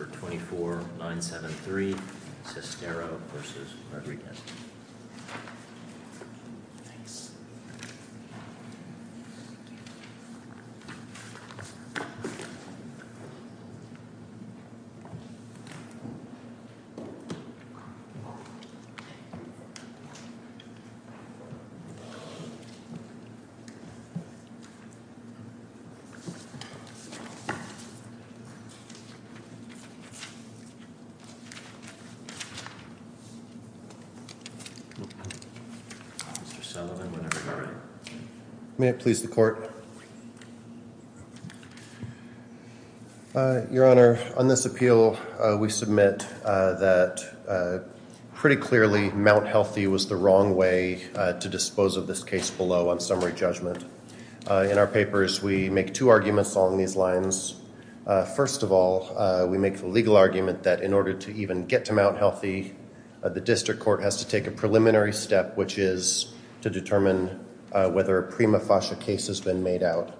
Centre for the Human Rights on this appeal we submit that pretty clearly Mount Healthy was the wrong way to dispose of this case below on summary judgement. In our papers we make two arguments on these lines. First of all, we make the legal argument that in order to even get to Mount Healthy, the district court has to take a preliminary step, which is to determine whether a prima facie case has been made out,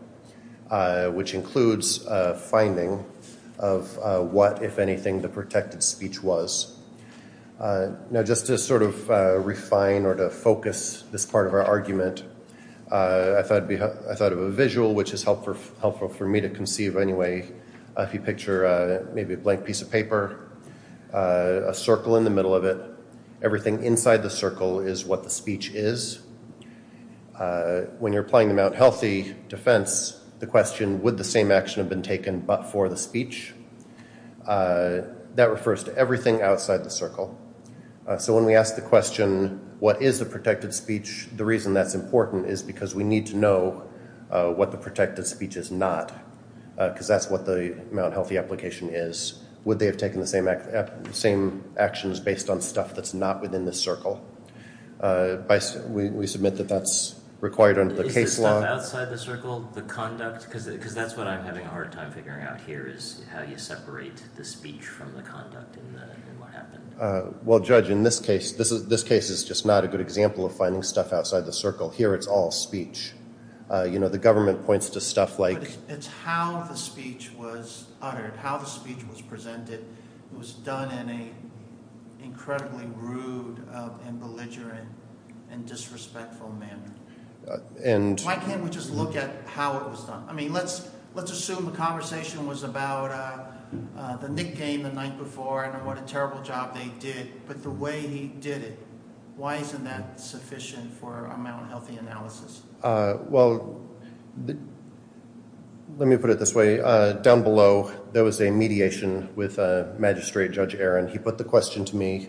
which includes a finding of what, if anything, the protected speech was. Just to sort of refine or to focus this part of our argument, I thought of a visual which is helpful for me to conceive anyway. If you picture maybe a blank piece of paper, a circle in the middle of it, everything inside the circle is what the speech is. When you're applying the Mount Healthy defense, the question, would the same action have been taken but for the speech? That refers to everything outside the circle. So when we ask the question, what is the protected speech, the reason that's important is because we need to know what the protected speech is not, because that's what the Mount Healthy application is. Would they have taken the same actions based on stuff that's not within the circle? We submit that that's required under the case law. Is the stuff outside the circle the conduct? Because that's what I'm having a hard time figuring out here, is how you separate the speech from the conduct and what happened. Well Judge, in this case, this case is just not a good example of finding stuff outside the circle. Here it's all speech. You know, the government points to stuff like... It's how the speech was uttered, how the speech was presented. It was done in an incredibly rude and belligerent and disrespectful manner. And... Why can't we just look at how it was done? I mean, let's assume the conversation was about the Knick game the night before and what a terrible job they did, but the way he did it, why isn't that sufficient for a healthy analysis? Well, let me put it this way. Down below, there was a mediation with Magistrate Judge Aaron. He put the question to me,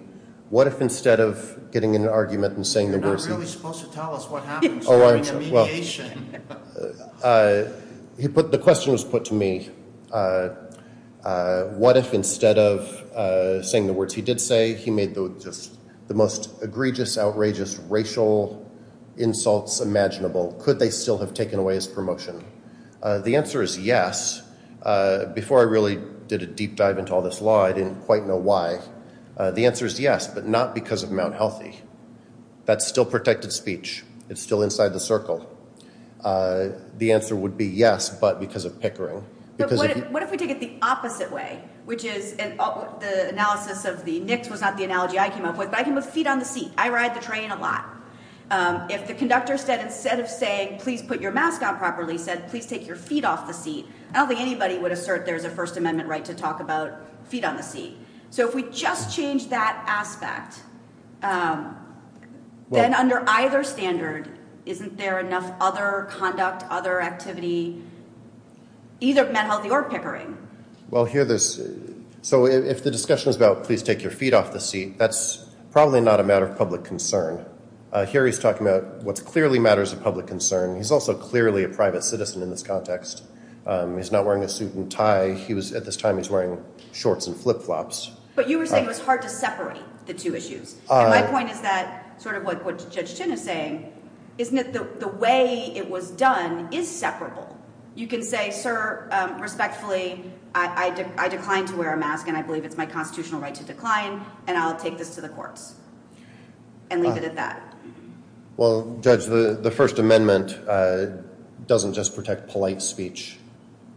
what if instead of getting in an argument and saying the words... You're not really supposed to tell us what happens during a mediation. The question was put to me, what if instead of saying the words he did say, he made the most egregious, outrageous, racial insults imaginable? Could they still have taken away his promotion? The answer is yes. Before I really did a deep dive into all this law, I didn't quite know why. The answer is yes, but not because of Mount Healthy. That's still protected speech. It's still inside the circle. The answer would be yes, but because of Pickering. But what if we take it the opposite way, which is the analysis of the Knicks was not the feet on the seat. I ride the train a lot. If the conductor said, instead of saying, please put your mask on properly, said, please take your feet off the seat, I don't think anybody would assert there's a First Amendment right to talk about feet on the seat. So if we just change that aspect, then under either standard, isn't there enough other conduct, other activity, either at Mount Healthy or Pickering? Well, here there's... So if the discussion is about please take your feet off the seat, that's probably not a matter of public concern. Here he's talking about what's clearly matters of public concern. He's also clearly a private citizen in this context. He's not wearing a suit and tie. At this time, he's wearing shorts and flip-flops. But you were saying it was hard to separate the two issues. My point is that sort of what Judge Chin is saying, isn't it the way it was done is separable. You can say, sir, respectfully, I declined to wear a mask and I believe it's my constitutional right to decline and I'll take this to the courts and leave it at that. Well, Judge, the First Amendment doesn't just protect polite speech.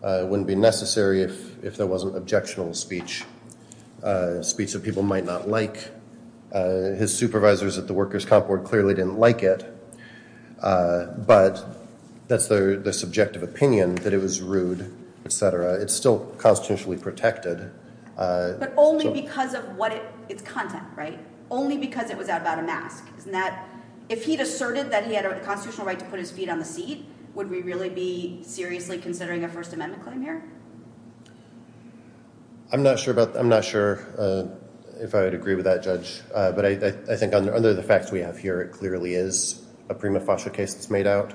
It wouldn't be necessary if there wasn't objectionable speech, speech that people might not like. His supervisors at the Workers' Comp Board clearly didn't like it, but that's the subjective opinion that it was rude, et cetera. It's still constitutionally protected. But only because of what its content, right? Only because it was out about a mask, isn't that? If he'd asserted that he had a constitutional right to put his feet on the seat, would we really be seriously considering a First Amendment claim here? I'm not sure if I would agree with that, Judge, but I think under the facts we have here, it clearly is a prima facie case that's made out.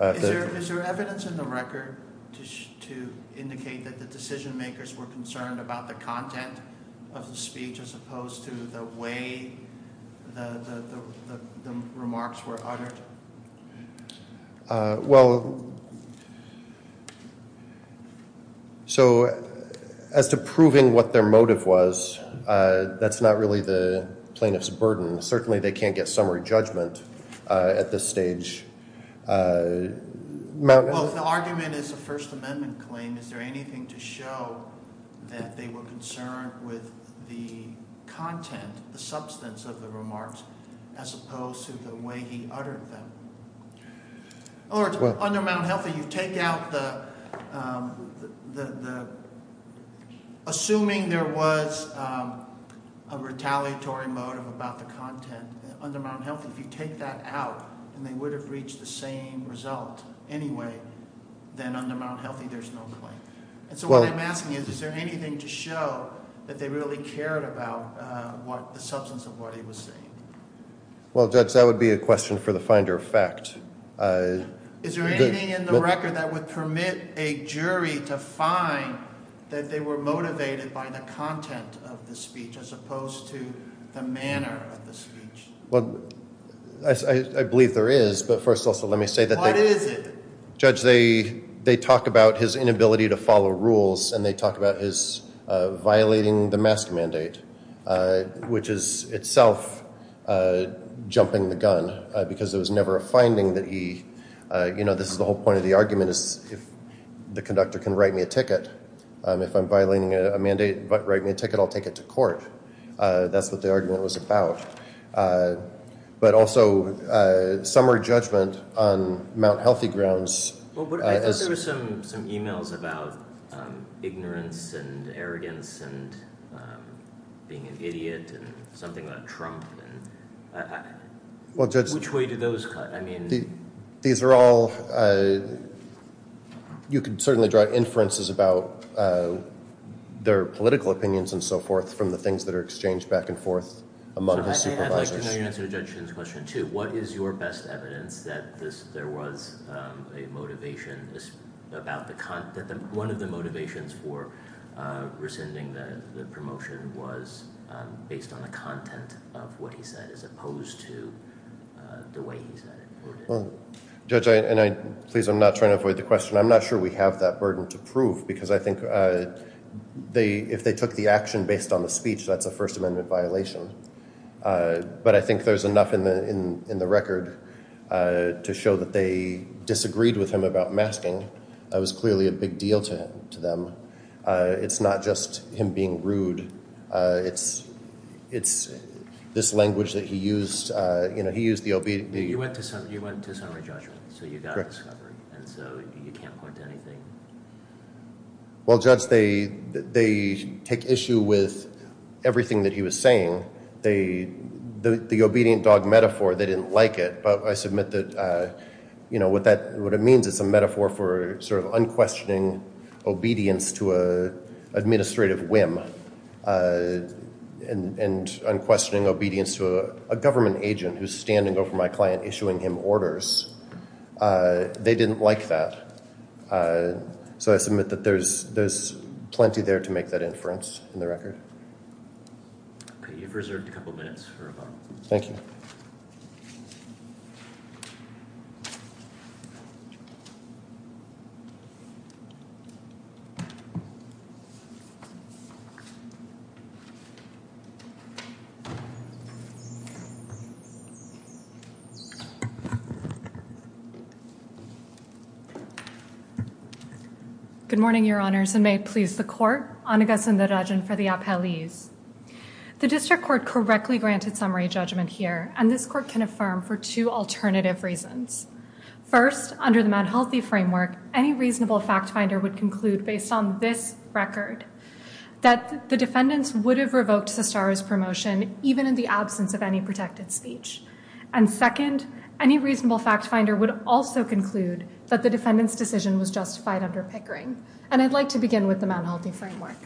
Is there evidence in the record to indicate that the decision makers were concerned about the content of the speech as opposed to the way the remarks were uttered? Well, so as to proving what their motive was, that's not really the plaintiff's burden. Certainly they can't get summary judgment at this stage. Well, if the argument is a First Amendment claim, is there anything to show that they were concerned with the content, the substance of the remarks, as opposed to the way he uttered them? In other words, under Mt. Healthy, assuming there was a retaliatory motive about the content, under Mt. Healthy, if you take that out and they would have reached the same result anyway, then under Mt. Healthy there's no claim. So what I'm asking is, is there anything to show that they really cared about the substance of what he was saying? Well, Judge, that would be a question for the finder of fact. Is there anything in the record that would permit a jury to find that they were motivated by the content of the speech as opposed to the manner of the speech? Well, I believe there is, but first also let me say that they... What is it? Judge, they talk about his inability to follow rules and they talk about his violating the mask mandate, which is itself jumping the gun because there was never a finding that he... You know, this is the whole point of the argument is if the conductor can write me a ticket. If I'm violating a mandate but write me a ticket, I'll take it to court. That's what the argument was about. But also, some are judgment on Mt. Healthy grounds. I thought there was some emails about ignorance and arrogance and being an idiot and something about Trump. Which way do those cut? You could certainly draw inferences about their political opinions and so forth from the things that are exchanged back and forth among his supervisors. I'd like to know your answer to Judge Shinn's question too. What is your best evidence that there was a motivation about the... One of the motivations for rescinding the promotion was based on the content of what he said as opposed to the way he said it? Judge, please, I'm not trying to avoid the question. I'm not sure we have that burden to prove because I think if they took the action based on the speech, that's a First Amendment violation. But I think there's enough in the record to show that they disagreed with him about masking. That was clearly a big deal to them. It's not just him being rude. It's this language that he used. He used the... You went to summary judgment. So you got a discovery. And so you can't point to anything. Well, Judge, they take issue with everything that he was saying. The obedient dog metaphor, they didn't like it. But I submit that what it means, it's a metaphor for sort of unquestioning obedience to an administrative whim and unquestioning obedience to a government agent who's standing over my client, issuing him orders. They didn't like that. And so I submit that there's plenty there to make that inference in the record. Okay. You've reserved a couple minutes for rebuttal. Thank you. Good morning, Your Honors, and may it please the court. Anagha Sundararajan for the appellees. The district court correctly granted summary judgment here. And this court can affirm for two alternative reasons. First, under the Mad Healthy framework, any reasonable fact finder would conclude based on this record that the defendants would have revoked Sestaro's promotion even in the absence of any protected speech. And second, any reasonable fact finder would also conclude that the defendant's decision was justified under Pickering. And I'd like to begin with the Mad Healthy framework.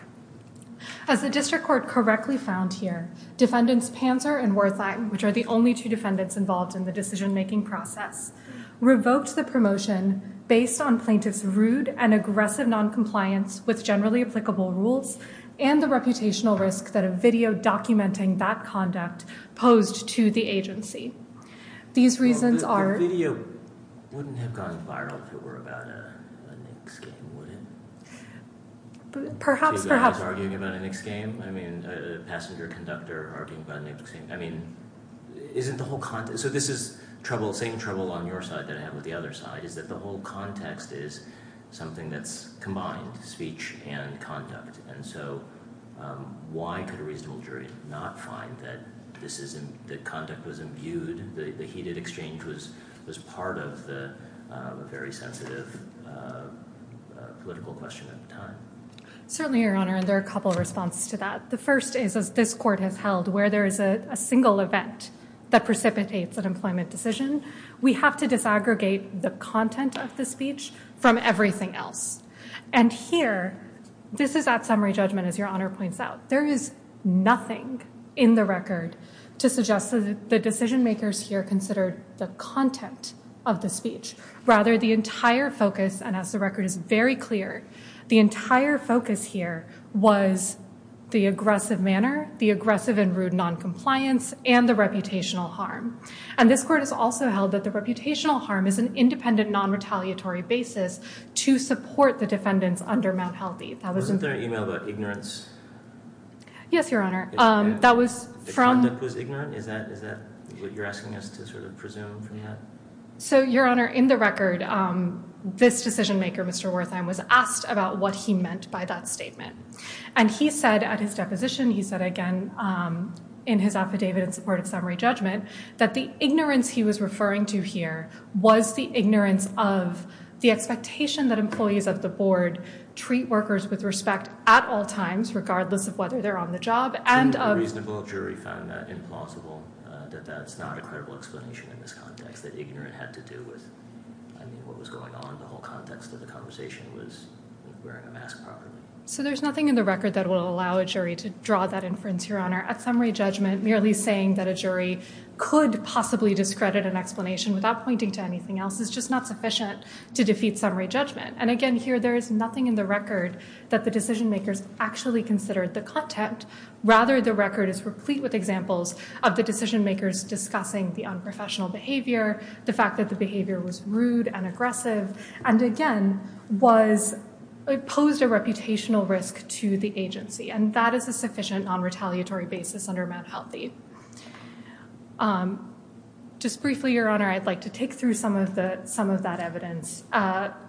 As the district court correctly found here, defendants Panzer and Wertheim, which are the only two defendants involved in the decision making process, revoked the promotion based on plaintiff's rude and aggressive noncompliance with generally applicable rules and the reputational risk that a video documenting that conduct posed to the agency. These reasons are... The video wouldn't have gone viral if it were about a Knicks game, would it? Perhaps, perhaps. Two guys arguing about a Knicks game? I mean, a passenger conductor arguing about a Knicks game? I mean, isn't the whole context... So this is trouble, same trouble on your side that I have with the other side, is that the whole context is something that's combined, speech and conduct. And so why could a reasonable jury not find that conduct was imbued, the heated exchange was part of the very sensitive political question at the time? Certainly, Your Honor, and there are a couple of responses to that. The first is, as this court has held, where there is a single event that precipitates an employment decision, we have to disaggregate the content of the speech from everything else. And here, this is that summary judgment, as Your Honor points out. There is nothing in the record to suggest that the decision makers here considered the content of the speech. Rather, the entire focus, and as the record is very clear, the entire focus here was the aggressive manner, the aggressive and rude noncompliance, and the reputational harm. And this court has also held that the reputational harm is an independent, non-retaliatory basis to support the defendants under Mount Healthy. Wasn't there an email about ignorance? Yes, Your Honor. The conduct was ignorant? Is that what you're asking us to sort of presume from that? So Your Honor, in the record, this decision maker, Mr. Wertheim, was asked about what he meant by that statement. And he said at his deposition, he said again in his affidavit in support of summary judgment, that the ignorance he was referring to here was the ignorance of the expectation that employees of the board treat workers with respect at all times, regardless of whether they're on the job. And a reasonable jury found that implausible, that that's not a credible explanation in this context, that ignorant had to do with, I mean, what was going on in the whole context of the conversation was wearing a mask properly. So there's nothing in the record that will allow a jury to draw that inference, Your Could possibly discredit an explanation without pointing to anything else. It's just not sufficient to defeat summary judgment. And again, here, there is nothing in the record that the decision makers actually considered the content. Rather, the record is replete with examples of the decision makers discussing the unprofessional behavior, the fact that the behavior was rude and aggressive, and again, posed a reputational risk to the agency. And that is a sufficient non-retaliatory basis under Mount Healthy. Just briefly, Your Honor, I'd like to take through some of that evidence.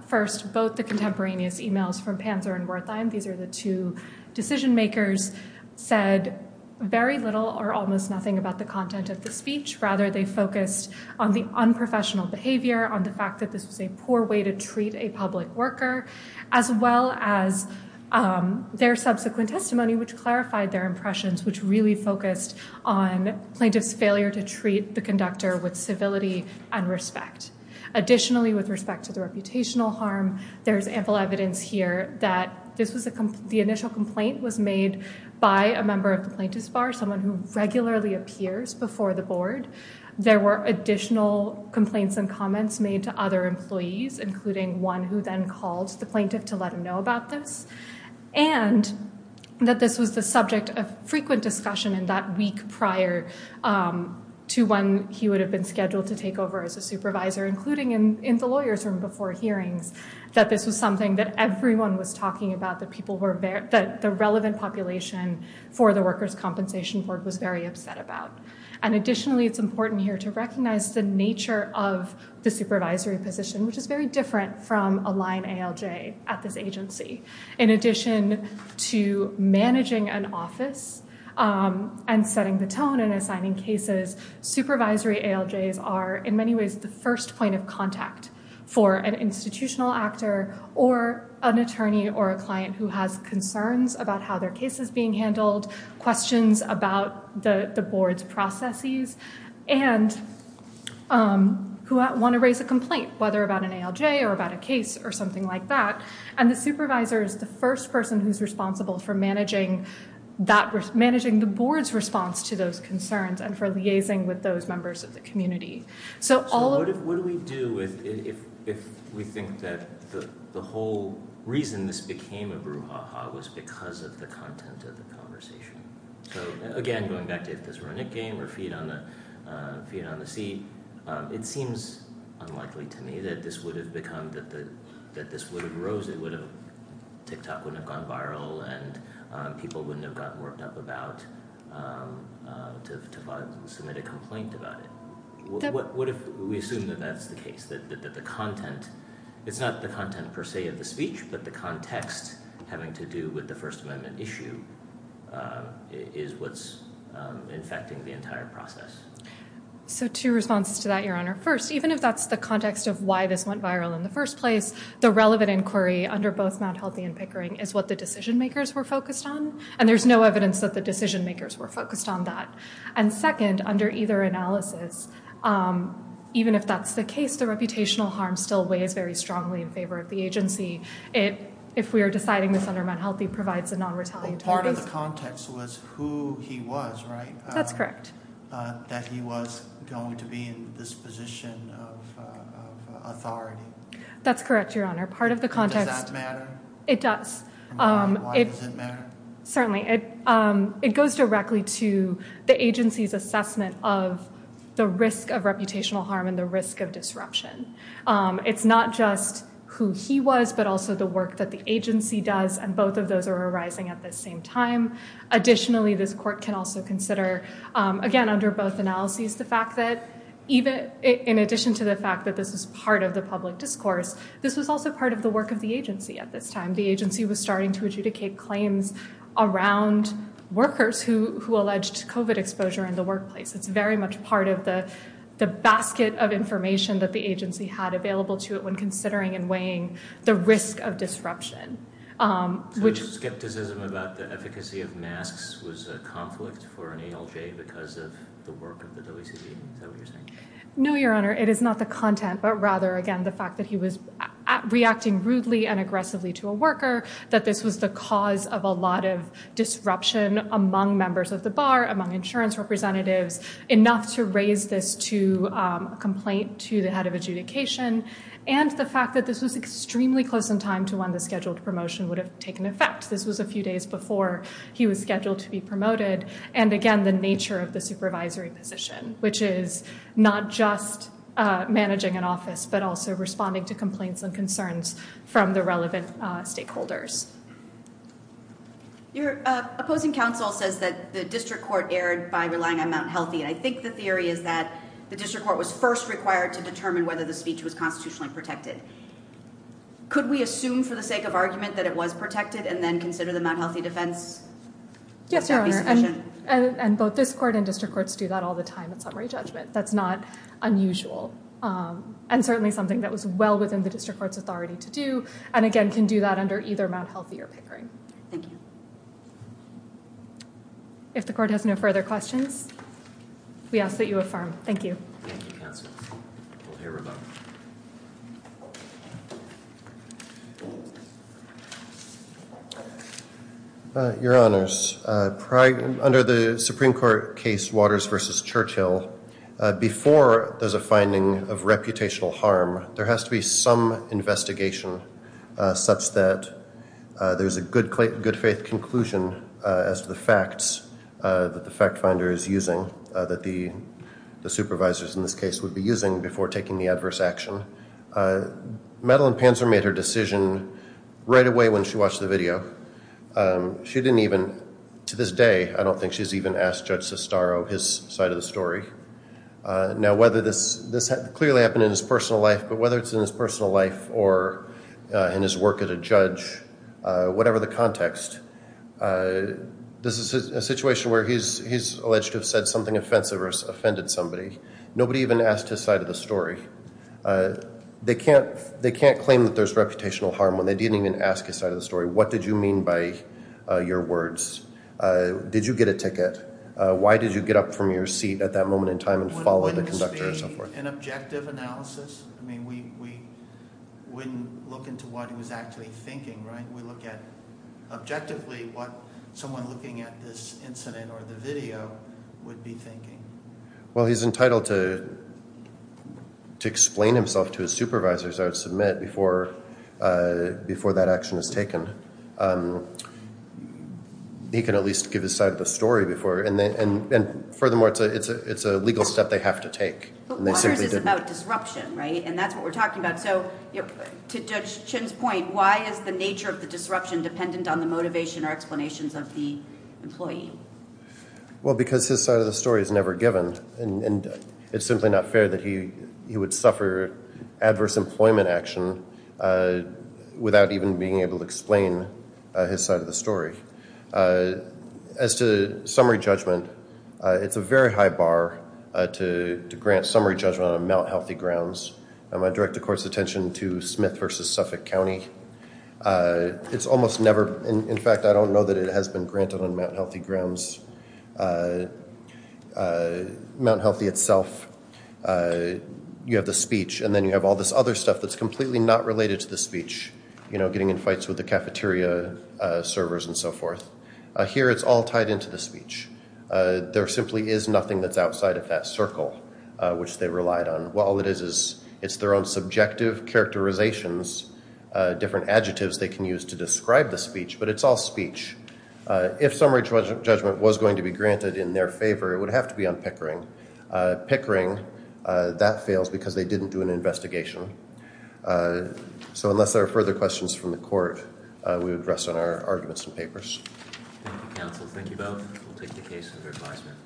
First, both the contemporaneous emails from Panzer and Wertheim, these are the two decision makers, said very little or almost nothing about the content of the speech. Rather, they focused on the unprofessional behavior, on the fact that this was a poor way to treat a public worker, as well as their subsequent testimony, which clarified their impressions, which really focused on plaintiff's failure to treat the conductor with civility and respect. Additionally, with respect to the reputational harm, there is ample evidence here that the initial complaint was made by a member of the plaintiff's bar, someone who regularly appears before the board. There were additional complaints and comments made to other employees, including one who then called the plaintiff to let him know about this, and that this was the subject of frequent discussion in that week prior to when he would have been scheduled to take over as a supervisor, including in the lawyer's room before hearings, that this was something that everyone was talking about, that the relevant population for the Workers' Compensation Board was very upset about. And additionally, it's important here to recognize the nature of the supervisory position, which is very different from a line ALJ at this agency. In addition to managing an office and setting the tone and assigning cases, supervisory ALJs are, in many ways, the first point of contact for an institutional actor or an attorney or a client who has concerns about how their case is being handled, questions about the board's processes, and who want to raise a complaint, whether about an ALJ or about a case or something like that. And the supervisor is the first person who's responsible for managing the board's response to those concerns and for liaising with those members of the community. So what do we do if we think that the whole reason this became a brouhaha was because of the content of the conversation? So again, going back to if this were a Nick game or feet on the seat, it seems unlikely to me that this would have become, that this would have rose, it would have, TikTok wouldn't have gone viral, and people wouldn't have gotten worked up about, to submit a complaint about it. What if we assume that that's the case, that the content, it's not the content per se of the speech, but the context having to do with the First Amendment issue is what's infecting the entire process? So two responses to that, Your Honor. First, even if that's the context of why this went viral in the first place, the relevant inquiry under both Mount Healthy and Pickering is what the decision makers were focused on. And there's no evidence that the decision makers were focused on that. And second, under either analysis, even if that's the case, the reputational harm still weighs very strongly in favor of the agency. If we are deciding this under Mount Healthy, provides a non-retaliatory- Part of the context was who he was, right? That's correct. That he was going to be in this position of authority. That's correct, Your Honor. Part of the context- Does that matter? It does. Why does it matter? Certainly. It goes directly to the agency's assessment of the risk of reputational harm and the risk of disruption. It's not just who he was, but also the work that the agency does, and both of those are arising at the same time. Additionally, this court can also consider, again, under both analyses, the fact that in addition to the fact that this was part of the public discourse, this was also part of the work of the agency at this time. The agency was starting to adjudicate claims around workers who alleged COVID exposure in the workplace. It's very much part of the basket of information that the agency had available to it when considering and weighing the risk of disruption, which- The skepticism about the efficacy of masks was a conflict for an ALJ because of the work of the WCB. Is that what you're saying? No, Your Honor. It is not the content, but rather, again, the fact that he was reacting rudely and aggressively to a worker, that this was the cause of a lot of disruption among members of the bar, among insurance representatives, enough to raise this to a complaint to the head of adjudication, and the fact that this was extremely close in time to when the scheduled promotion would have taken effect. This was a few days before he was scheduled to be promoted. And again, the nature of the supervisory position, which is not just managing an office, but also responding to complaints and concerns from the relevant stakeholders. Your opposing counsel says that the district court erred by relying on Mount Healthy. I think the theory is that the district court was first required to determine whether the speech was constitutionally protected. Could we assume for the sake of argument that it was protected and then consider the Mount Healthy defense? And both this court and district courts do that all the time at summary judgment. That's not unusual, and certainly something that was well within the district court's authority to do, and again, can do that under either Mount Healthy or Pickering. Thank you. If the court has no further questions, we ask that you affirm. Thank you. Thank you, counsel. We'll hear about it. Your honors, under the Supreme Court case Waters versus Churchill, before there's a finding of reputational harm, there has to be some investigation such that there's a good faith conclusion as to the facts that the fact finder is using, that the supervisors in this case would be using before taking the adverse action. Madeline Panzer made her decision right away when she watched the video. She didn't even, to this day, I don't think she's even asked Judge Sestaro his side of the story. Now, whether this clearly happened in his personal life, but whether it's in his personal life or in his work as a judge, whatever the context, this is a situation where he's alleged to have said something offensive or offended somebody. Nobody even asked his side of the story. They can't claim that there's reputational harm when they didn't even ask his side of the story. What did you mean by your words? Did you get a ticket? Why did you get up from your seat at that moment in time and follow the conductor and so forth? An objective analysis? I mean, we wouldn't look into what he was actually thinking, right? We look at objectively what someone looking at this incident or the video would be thinking. Well, he's entitled to explain himself to his supervisors, I would submit, before that action is taken. He can at least give his side of the story before, and furthermore, it's a legal step they have to take. But Waters is about disruption, right? And that's what we're talking about. So to Judge Chin's point, why is the nature of the disruption dependent on the motivation or explanations of the employee? Well, because his side of the story is never given, and it's simply not fair that he would suffer adverse employment action without even being able to explain his side of the story. As to summary judgment, it's a very high bar to grant summary judgment on Mt. Healthy Grounds. I direct the court's attention to Smith v. Suffolk County. It's almost never, in fact, I don't know that it has been granted on Mt. Healthy Grounds. Mt. Healthy itself, you have the speech, and then you have all this other stuff that's completely not related to the speech. You know, getting in fights with the cafeteria servers and so forth. Here, it's all tied into the speech. There simply is nothing that's outside of that circle, which they relied on. It's their own subjective characterizations, different adjectives they can use to describe the speech, but it's all speech. If summary judgment was going to be granted in their favor, it would have to be on Pickering. Pickering, that fails because they didn't do an investigation. So unless there are further questions from the court, we would rest on our arguments and papers. Thank you, counsel. Thank you both. We'll take the case under advisement.